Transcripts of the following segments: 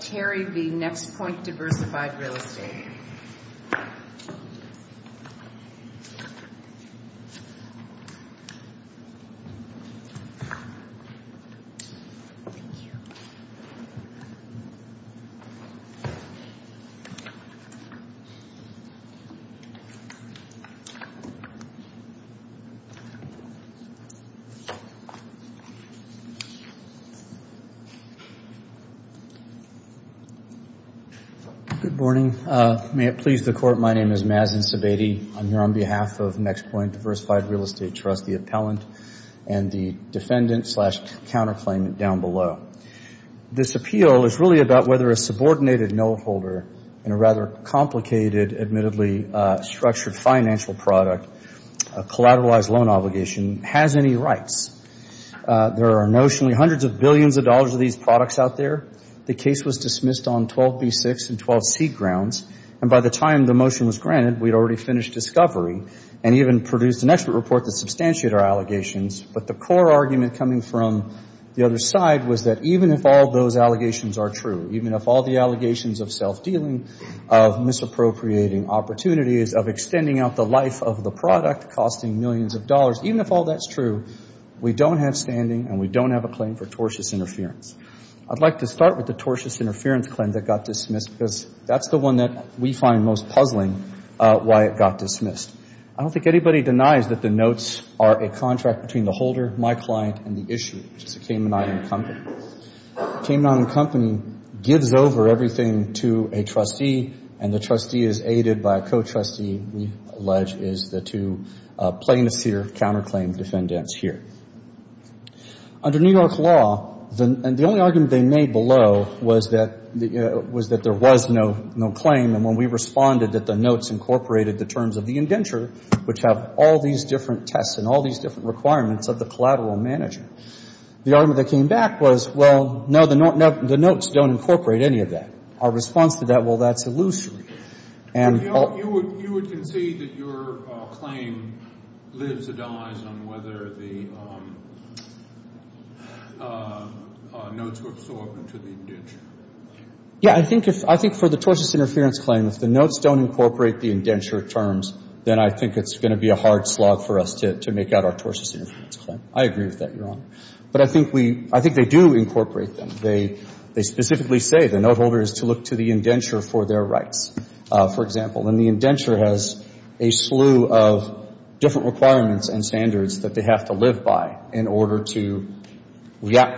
Terry v. Next Point Diversified Real Estate. Good morning. May it please the Court, my name is Maz Incibeti. I'm here on behalf of Next Point Diversified Real Estate Trust, the appellant, and the defendant-slash-counterclaimant down below. This appeal is really about whether a subordinated note holder in a rather complicated, admittedly structured financial product, a collateralized loan obligation, has any rights. There are notionally hundreds of billions of dollars of these products out there. The case was dismissed on 12B6 and 12C grounds, and by the time the motion was granted, we'd already finished discovery and even produced an expert report that substantiated our allegations. But the core argument coming from the other side was that even if all those allegations are true, even if all the allegations of self-dealing, of misappropriating opportunities, of extending out the life of the product, costing millions of dollars, even if all that's true, we don't have standing and we don't have a claim for tortious interference. I'd like to start with the tortious interference claim that got dismissed, because that's the one that we find most puzzling why it got dismissed. I don't think anybody denies that the notes are a contract between the holder, my client, and the issuer, which is the Cayman Island Company. Cayman Island Company gives over everything to a trustee, and the trustee is aided by a co-trustee, we allege is the two plaintiffs here, counterclaim defendants here. Under New York law, the only argument they made below was that there was no claim. And when we responded that the notes incorporated the terms of the indenture, which have all these different tests and all these different requirements of the collateral manager, the argument that came back was, well, no, the notes don't incorporate any of that. Our response to that, well, that's illusory. You would concede that your claim lives or dies on whether the notes were absorbed into the indenture? Yeah. I think for the tortious interference claim, if the notes don't incorporate the indenture terms, then I think it's going to be a hard slog for us to make out our tortious interference claim. I agree with that, Your Honor. But I think they do incorporate them. They specifically say the note holder is to look to the indenture for their rights, for example. And the indenture has a slew of different requirements and standards that they have to live by in order to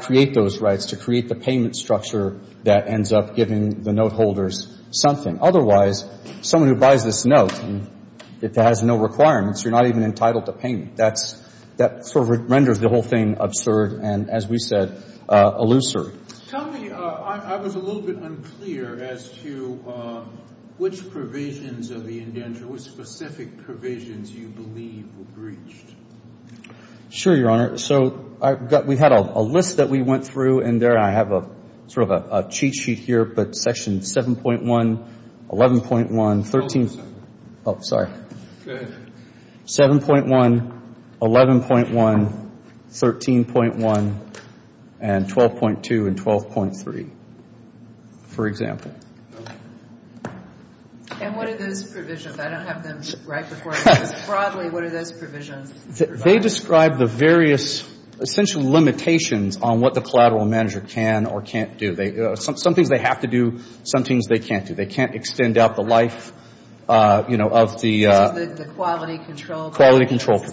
create those rights, to create the payment structure that ends up giving the note holders something. Otherwise, someone who buys this note, if it has no requirements, you're not even entitled to payment. I think that sort of renders the whole thing absurd and, as we said, illusory. Tell me, I was a little bit unclear as to which provisions of the indenture, which specific provisions you believe were breached. Sure, Your Honor. So we had a list that we went through, and there I have sort of a cheat sheet here, but Section 7.1, 11.1, 13. Hold on a second. Oh, sorry. Go ahead. 7.1, 11.1, 13.1, and 12.2 and 12.3, for example. And what are those provisions? I don't have them right before me. Broadly, what are those provisions? They describe the various essential limitations on what the collateral manager can or can't do. Some things they have to do, some things they can't do. They can't extend out the life, you know, of the The quality control. Quality control.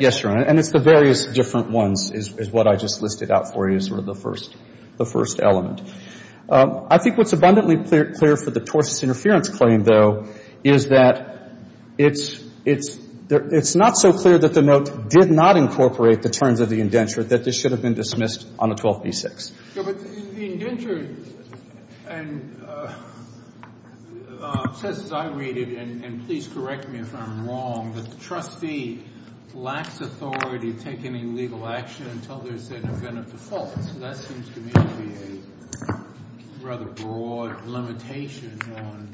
Yes, Your Honor. And it's the various different ones is what I just listed out for you as sort of the first element. I think what's abundantly clear for the torsus interference claim, though, is that it's not so clear that the note did not incorporate the terms of the indenture that this should have been dismissed on the 12b-6. But the indenture says, as I read it, and please correct me if I'm wrong, that the trustee lacks authority to take any legal action until there's an event of default. So that seems to me to be a rather broad limitation on,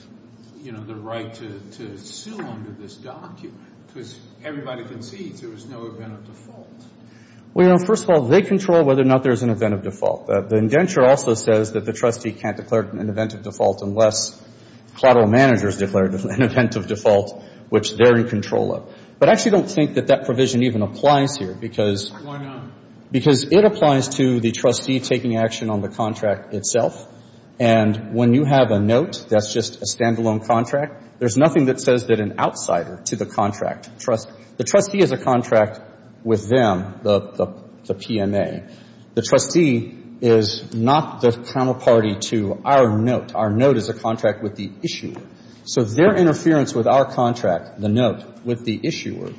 you know, the right to sue under this document. Because everybody concedes there was no event of default. Well, you know, first of all, they control whether or not there's an event of default. The indenture also says that the trustee can't declare an event of default unless collateral managers declared an event of default, which they're in control of. But I actually don't think that that provision even applies here, because Why not? Because it applies to the trustee taking action on the contract itself. And when you have a note that's just a standalone contract, there's nothing that says that an outsider to the contract trusts. The trustee has a contract with them, the PMA. The trustee is not the counterparty to our note. Our note is a contract with the issuer. So their interference with our contract, the note, with the issuer,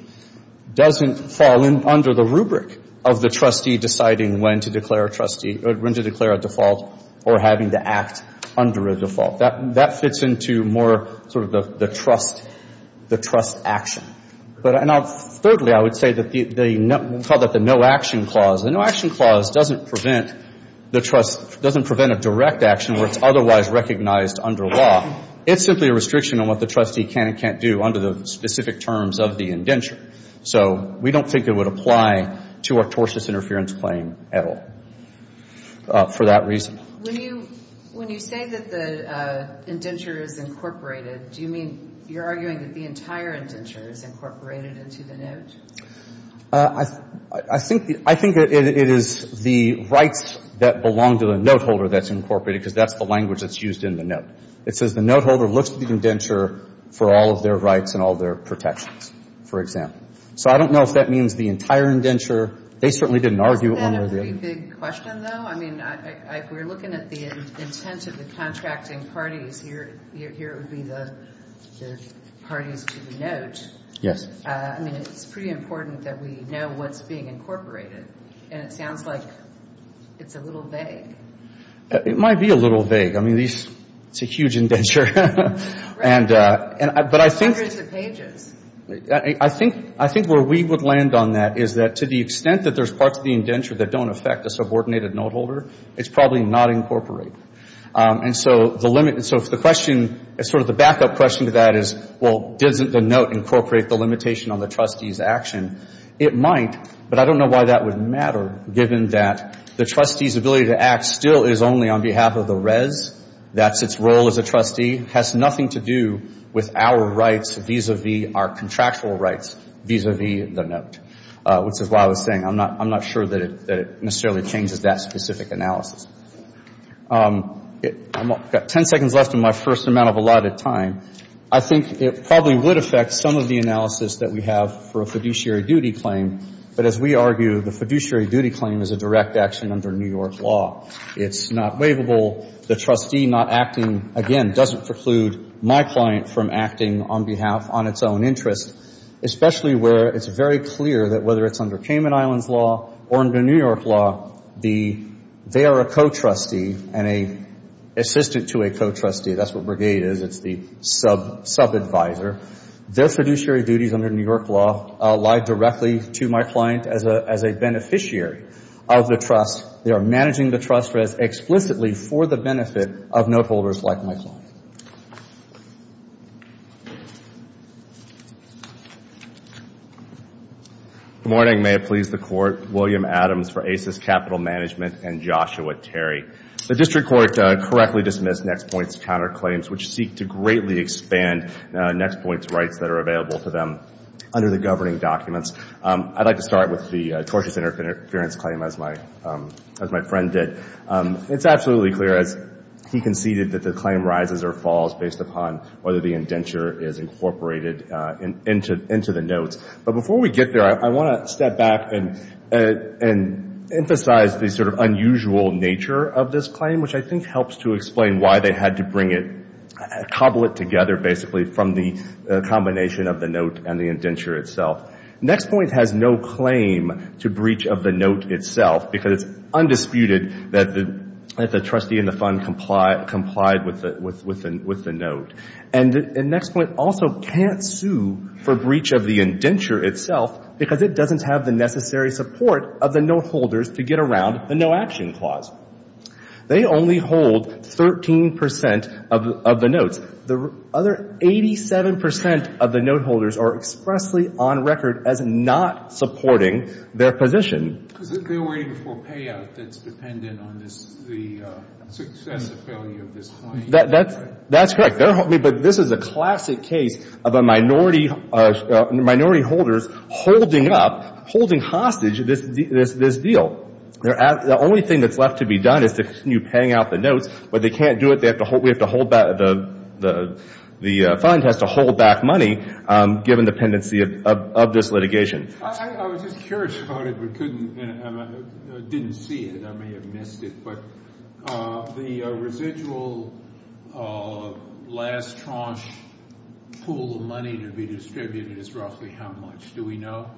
doesn't fall under the rubric of the trustee deciding when to declare a trustee or when to declare a default or having to act under a default. That fits into more sort of the trust action. And thirdly, I would say that they call that the no-action clause. The no-action clause doesn't prevent a direct action where it's otherwise recognized under law. It's simply a restriction on what the trustee can and can't do under the specific terms of the indenture. So we don't think it would apply to our tortious interference claim at all for that reason. When you say that the indenture is incorporated, do you mean you're arguing that the entire indenture is incorporated into the note? I think that it is the rights that belong to the note holder that's incorporated because that's the language that's used in the note. It says the note holder looks at the indenture for all of their rights and all their protections, for example. So I don't know if that means the entire indenture. They certainly didn't argue only the indenture. Isn't that a pretty big question, though? I mean, if we're looking at the intent of the contracting parties, here would be the parties to the note. I mean, it's pretty important that we know what's being incorporated. And it sounds like it's a little vague. It might be a little vague. I mean, it's a huge indenture. Right. And hundreds of pages. But I think where we would land on that is that to the extent that there's parts of the indenture that don't affect a subordinated note holder, it's probably not incorporated. And so the question, sort of the backup question to that is, well, doesn't the note incorporate the limitation on the trustee's action? It might, but I don't know why that would matter, given that the trustee's ability to act still is only on behalf of the res. That's its role as a trustee. It has nothing to do with our rights vis-a-vis our contractual rights vis-a-vis the note, which is why I was saying I'm not sure that it necessarily changes that specific analysis. I've got ten seconds left in my first amount of allotted time. I think it probably would affect some of the analysis that we have for a fiduciary duty claim. But as we argue, the fiduciary duty claim is a direct action under New York law. It's not waivable. The trustee not acting, again, doesn't preclude my client from acting on behalf on its own interest, especially where it's very clear that whether it's under Cayman Islands law or under New York law, they are a co-trustee and an assistant to a co-trustee. That's what Brigade is. It's the sub-advisor. Their fiduciary duties under New York law lie directly to my client as a beneficiary of the trust. They are managing the trust explicitly for the benefit of note holders like my client. Good morning. May it please the Court. William Adams for ACES Capital Management and Joshua Terry. The District Court correctly dismissed NextPoint's counterclaims, which seek to greatly expand NextPoint's rights that are available to them under the governing documents. I'd like to start with the tortious interference claim, as my friend did. It's absolutely clear, as he conceded, that the claim rises or falls based upon whether the indenture is incorporated into the notes. But before we get there, I want to step back and emphasize the sort of unusual nature of this claim, which I think helps to explain why they had to bring it, cobble it together, basically, from the combination of the note and the indenture itself. NextPoint has no claim to breach of the note itself, because it's undisputed that the trustee and the fund complied with the note. And NextPoint also can't sue for breach of the indenture itself, because it doesn't have the necessary support of the note holders to get around the No Action Clause. They only hold 13 percent of the notes. The other 87 percent of the note holders are expressly on record as not supporting their position. Is it minority before payout that's dependent on the success or failure of this claim? That's correct. But this is a classic case of a minority holders holding up, holding hostage this deal. The only thing that's left to be done is to continue paying out the notes. But they can't do it. We have to hold back. The fund has to hold back money, given the pendency of this litigation. I was just curious about it, but I didn't see it. I may have missed it. But the residual last tranche pool of money to be distributed is roughly how much? Do we know?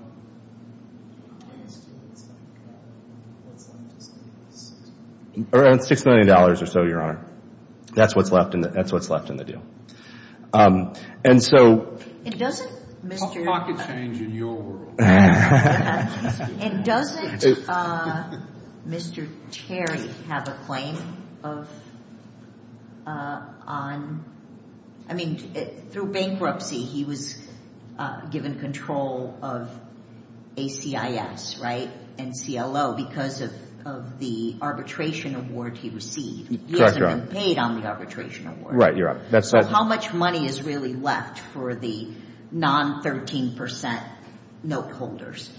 Around $6 million or so, Your Honor. That's what's left in the deal. And so Mr. A pocket change in your world. And doesn't Mr. Terry have a claim on, I mean, through bankruptcy, he was given control of ACIS, right? And CLO because of the arbitration award he received. Correct, Your Honor. He hasn't been paid on the arbitration award. Right, you're right. So how much money is really left for the non-13% note holders?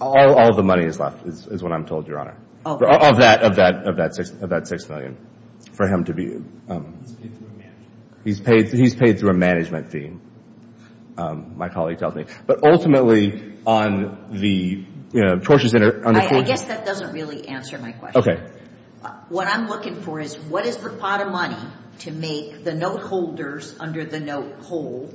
All the money is left is what I'm told, Your Honor. Of that $6 million for him to be. He's paid through a management fee, my colleague tells me. But ultimately on the torches in the pool. I guess that doesn't really answer my question. What I'm looking for is what is the pot of money to make the note holders under the note whole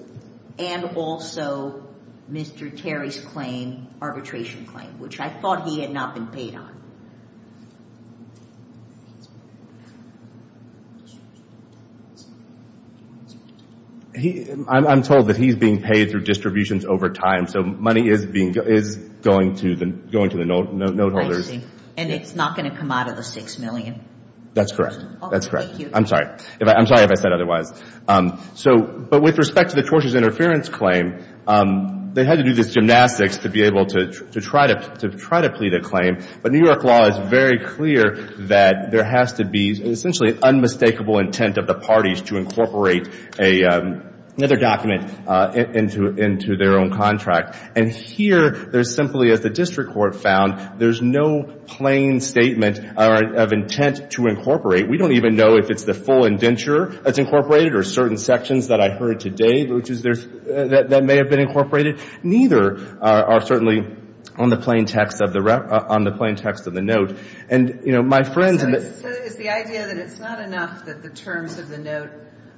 and also Mr. Terry's claim, arbitration claim, which I thought he had not been paid on. I'm told that he's being paid through distributions over time. So money is going to the note holders. I see. And it's not going to come out of the $6 million. That's correct. That's correct. I'm sorry. I'm sorry if I said otherwise. But with respect to the torches interference claim, they had to do this gymnastics to be able to try to plead a claim. But New York law is very clear that there has to be essentially an unmistakable intent of the parties to incorporate another document into their own contract. And here there's simply, as the district court found, there's no plain statement of intent to incorporate. We don't even know if it's the full indenture that's incorporated or certain sections that I heard today that may have been incorporated. Neither are certainly on the plain text of the note. And, you know, my friend — So it's the idea that it's not enough that the terms of the note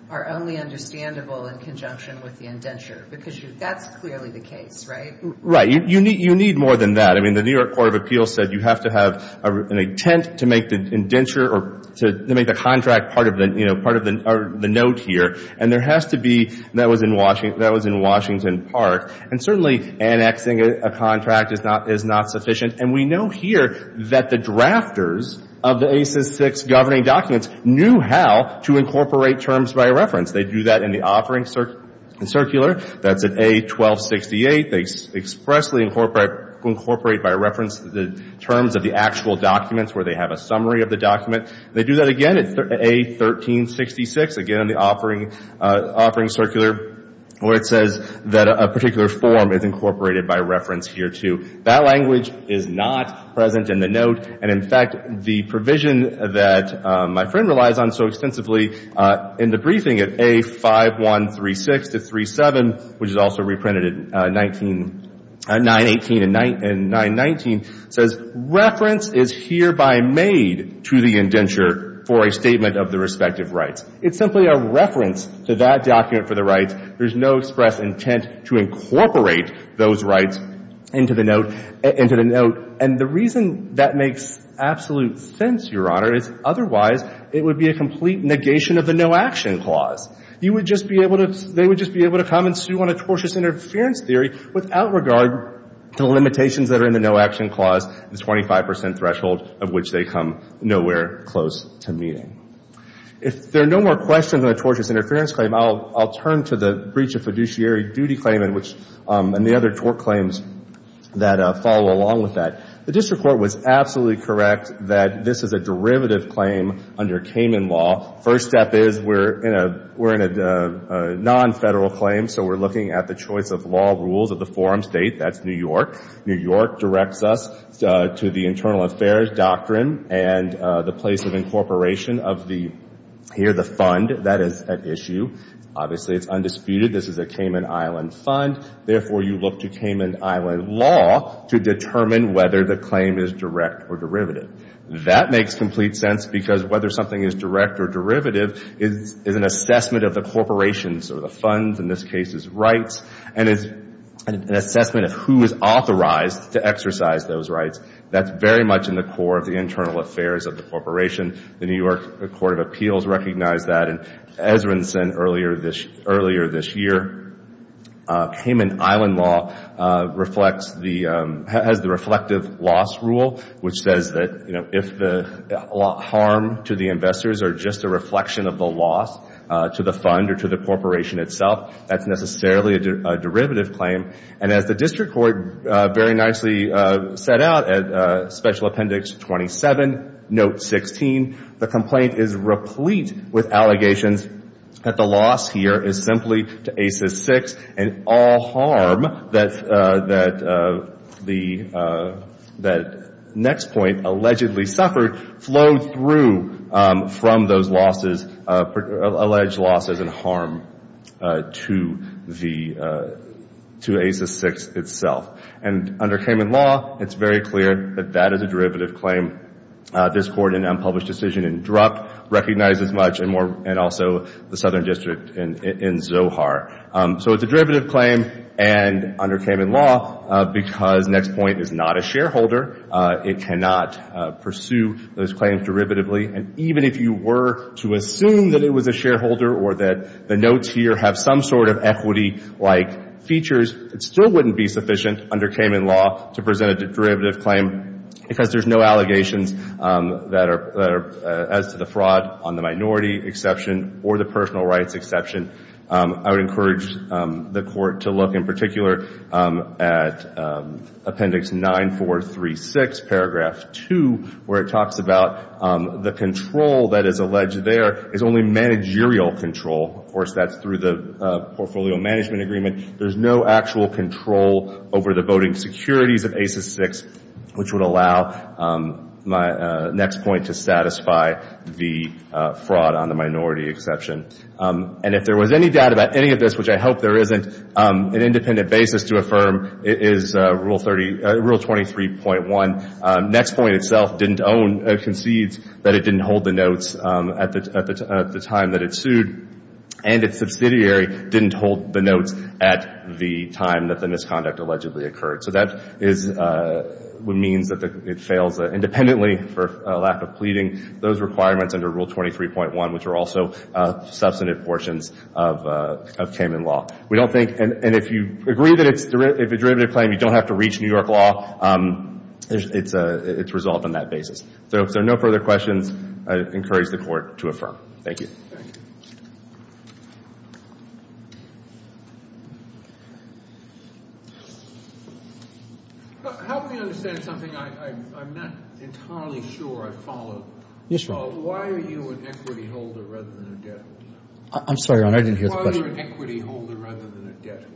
are only understandable in conjunction with the indenture because that's clearly the case, right? Right. You need more than that. I mean, the New York Court of Appeals said you have to have an intent to make the indenture or to make the contract part of the, you know, part of the note here. And there has to be — that was in Washington Park. And certainly annexing a contract is not sufficient. And we know here that the drafters of the ACES VI governing documents knew how to incorporate terms by reference. They do that in the offering circular. That's at A1268. They expressly incorporate by reference the terms of the actual documents where they have a summary of the document. They do that again at A1366, again in the offering circular, where it says that a particular form is incorporated by reference here too. That language is not present in the note. And, in fact, the provision that my friend relies on so extensively in the briefing at A5136-37, which is also reprinted at 918 and 919, says reference is hereby made to the indenture for a statement of the respective rights. It's simply a reference to that document for the rights. There's no express intent to incorporate those rights into the note. And the reason that makes absolute sense, Your Honor, is otherwise it would be a complete negation of the no-action clause. You would just be able to — they would just be able to come and sue on a tortious interference theory without regard to limitations that are in the no-action clause, the 25 percent threshold of which they come nowhere close to meeting. If there are no more questions on the tortious interference claim, I'll turn to the breach of fiduciary duty claim and which — and the other tort claims that follow along with that. The district court was absolutely correct that this is a derivative claim under Kamin law. First step is we're in a non-federal claim, so we're looking at the choice of law rules of the forum state. That's New York. New York directs us to the internal affairs doctrine and the place of incorporation of the — here, the fund. That is at issue. Obviously, it's undisputed. This is a Kamin Island fund. Therefore, you look to Kamin Island law to determine whether the claim is direct or derivative. That makes complete sense because whether something is direct or derivative is an assessment of the corporation's or the fund's, in this case, rights, and it's an assessment of who is authorized to exercise those rights. That's very much in the core of the internal affairs of the corporation. The New York Court of Appeals recognized that. And as was said earlier this year, Kamin Island law reflects the — which says that, you know, if the harm to the investors are just a reflection of the loss to the fund or to the corporation itself, that's necessarily a derivative claim. And as the district court very nicely set out at Special Appendix 27, Note 16, the complaint is replete with allegations that the loss here is simply to ACES VI and all harm that the next point allegedly suffered flowed through from those losses — alleged losses and harm to the — to ACES VI itself. And under Kamin law, it's very clear that that is a derivative claim. This Court in unpublished decision in Druk recognizes much, and also the Southern District in Zohar. So it's a derivative claim, and under Kamin law, because next point is not a shareholder, it cannot pursue those claims derivatively. And even if you were to assume that it was a shareholder or that the notes here have some sort of equity-like features, it still wouldn't be sufficient under Kamin law to present a derivative claim because there's no allegations that are — as to the fraud on the minority exception or the personal rights exception. I would encourage the Court to look in particular at Appendix 9436, Paragraph 2, where it talks about the control that is alleged there is only managerial control. Of course, that's through the Portfolio Management Agreement. There's no actual control over the voting securities of ACES VI, which would allow my next point to satisfy the fraud on the minority exception. And if there was any doubt about any of this, which I hope there isn't, an independent basis to affirm is Rule 30 — Rule 23.1. Next point itself didn't own — concedes that it didn't hold the notes at the time that it sued, and its subsidiary didn't hold the notes at the time that the misconduct allegedly occurred. So that is — means that it fails independently for a lack of pleading. Those requirements under Rule 23.1, which are also substantive portions of Cayman law. We don't think — and if you agree that it's — if a derivative claim, you don't have to reach New York law, it's resolved on that basis. So no further questions. I encourage the Court to affirm. Thank you. Thank you. Help me understand something I'm not entirely sure I followed. Yes, Your Honor. Why are you an equity holder rather than a debt holder? I'm sorry, Your Honor, I didn't hear the question. Why are you an equity holder rather than a debt holder?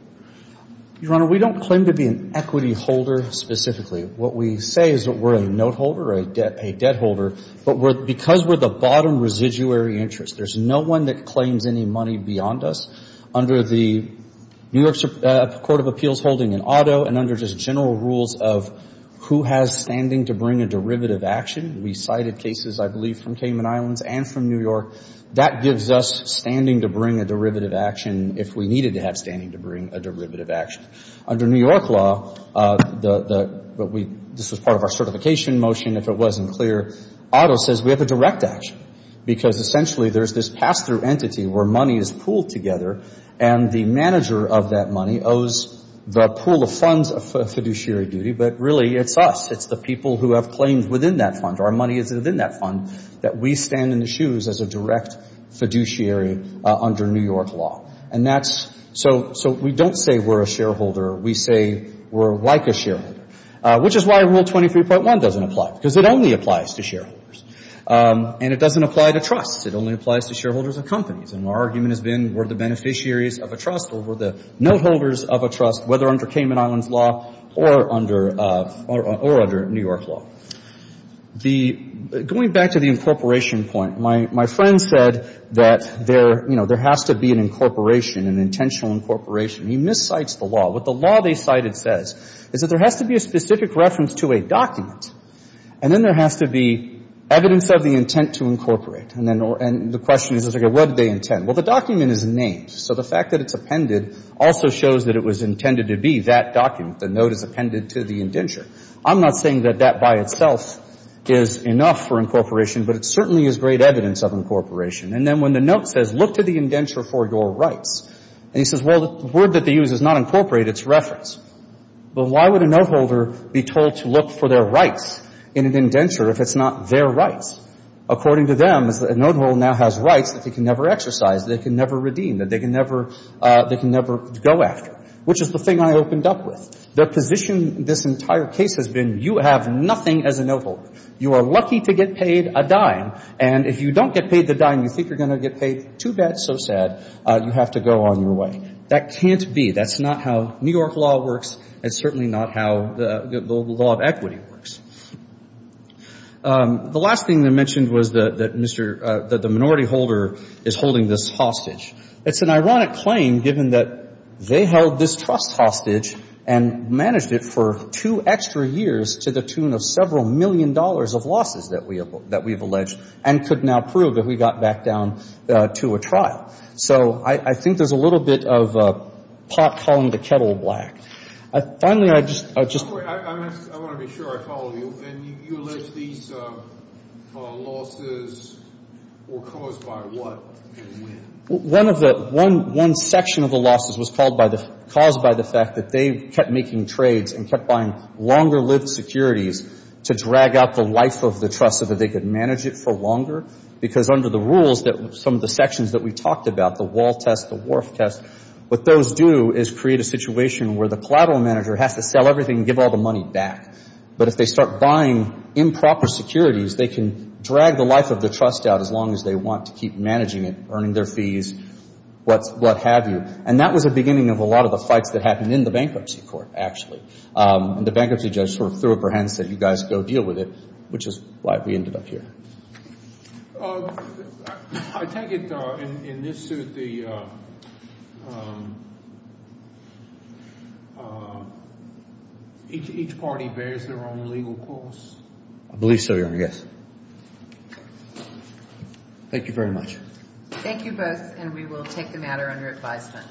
Your Honor, we don't claim to be an equity holder specifically. What we say is that we're a note holder, a debt holder, but because we're the bottom residuary interest, there's no one that claims any money beyond us. Under the New York Court of Appeals holding an auto, and under just general rules of who has standing to bring a derivative action, we cited cases, I believe, from Cayman Islands and from New York. That gives us standing to bring a derivative action if we needed to have standing to bring a derivative action. Under New York law, the — but we — this was part of our certification motion. If it wasn't clear, auto says we have a direct action because essentially there's this pass-through entity where money is pooled together, and the manager of that money owes the pool of funds of fiduciary duty, but really it's us. It's the people who have claims within that fund. Our money is within that fund that we stand in the shoes as a direct fiduciary under New York law. And that's — so we don't say we're a shareholder. We say we're like a shareholder, which is why Rule 23.1 doesn't apply, because it only applies to shareholders. And it doesn't apply to trusts. It only applies to shareholders of companies. And our argument has been we're the beneficiaries of a trust or we're the note holders of a trust, whether under Cayman Islands law or under — or under New York law. The — going back to the incorporation point, my friend said that there, you know, there has to be an incorporation, an intentional incorporation. He miscites the law. What the law they cited says is that there has to be a specific reference to a document, and then there has to be evidence of the intent to incorporate. And then — and the question is, okay, what did they intend? Well, the document is named, so the fact that it's appended also shows that it was intended to be that document. The note is appended to the indenture. I'm not saying that that by itself is enough for incorporation, but it certainly is great evidence of incorporation. And then when the note says, look to the indenture for your rights, and he says, well, the word that they use is not incorporate, it's reference. Well, why would a note holder be told to look for their rights in an indenture if it's not their rights? According to them, a note holder now has rights that they can never exercise, that they can never redeem, that they can never — they can never go after, which is the thing I opened up with. The position in this entire case has been you have nothing as a note holder. You are lucky to get paid a dime, and if you don't get paid the dime, you think you're going to get paid too bad, so sad. You have to go on your way. That can't be. That's not how New York law works. It's certainly not how the law of equity works. The last thing that I mentioned was that Mr. — that the minority holder is holding this hostage. It's an ironic claim, given that they held this trust hostage and managed it for two extra years to the tune of several million dollars of losses that we have alleged and could now prove if we got back down to a trial. So I think there's a little bit of pot calling the kettle black. Finally, I just — I want to be sure I follow you. And you allege these losses were caused by what? One of the — one section of the losses was caused by the fact that they kept making trades and kept buying longer-lived securities to drag out the life of the trust so that they could manage it for longer, because under the rules that some of the sections that we talked about, the wall test, the wharf test, what those do is create a situation where the collateral manager has to sell everything and give all the money back. But if they start buying improper securities, they can drag the life of the trust out as long as they want to keep managing it, earning their fees, what have you. And that was the beginning of a lot of the fights that happened in the bankruptcy court, actually. And the bankruptcy judge sort of threw up her hand and said, you guys go deal with it, which is why we ended up here. I take it, in this suit, the — each party bears their own legal costs? I believe so, Your Honor, yes. Thank you very much. Thank you both, and we will take the matter under advisement.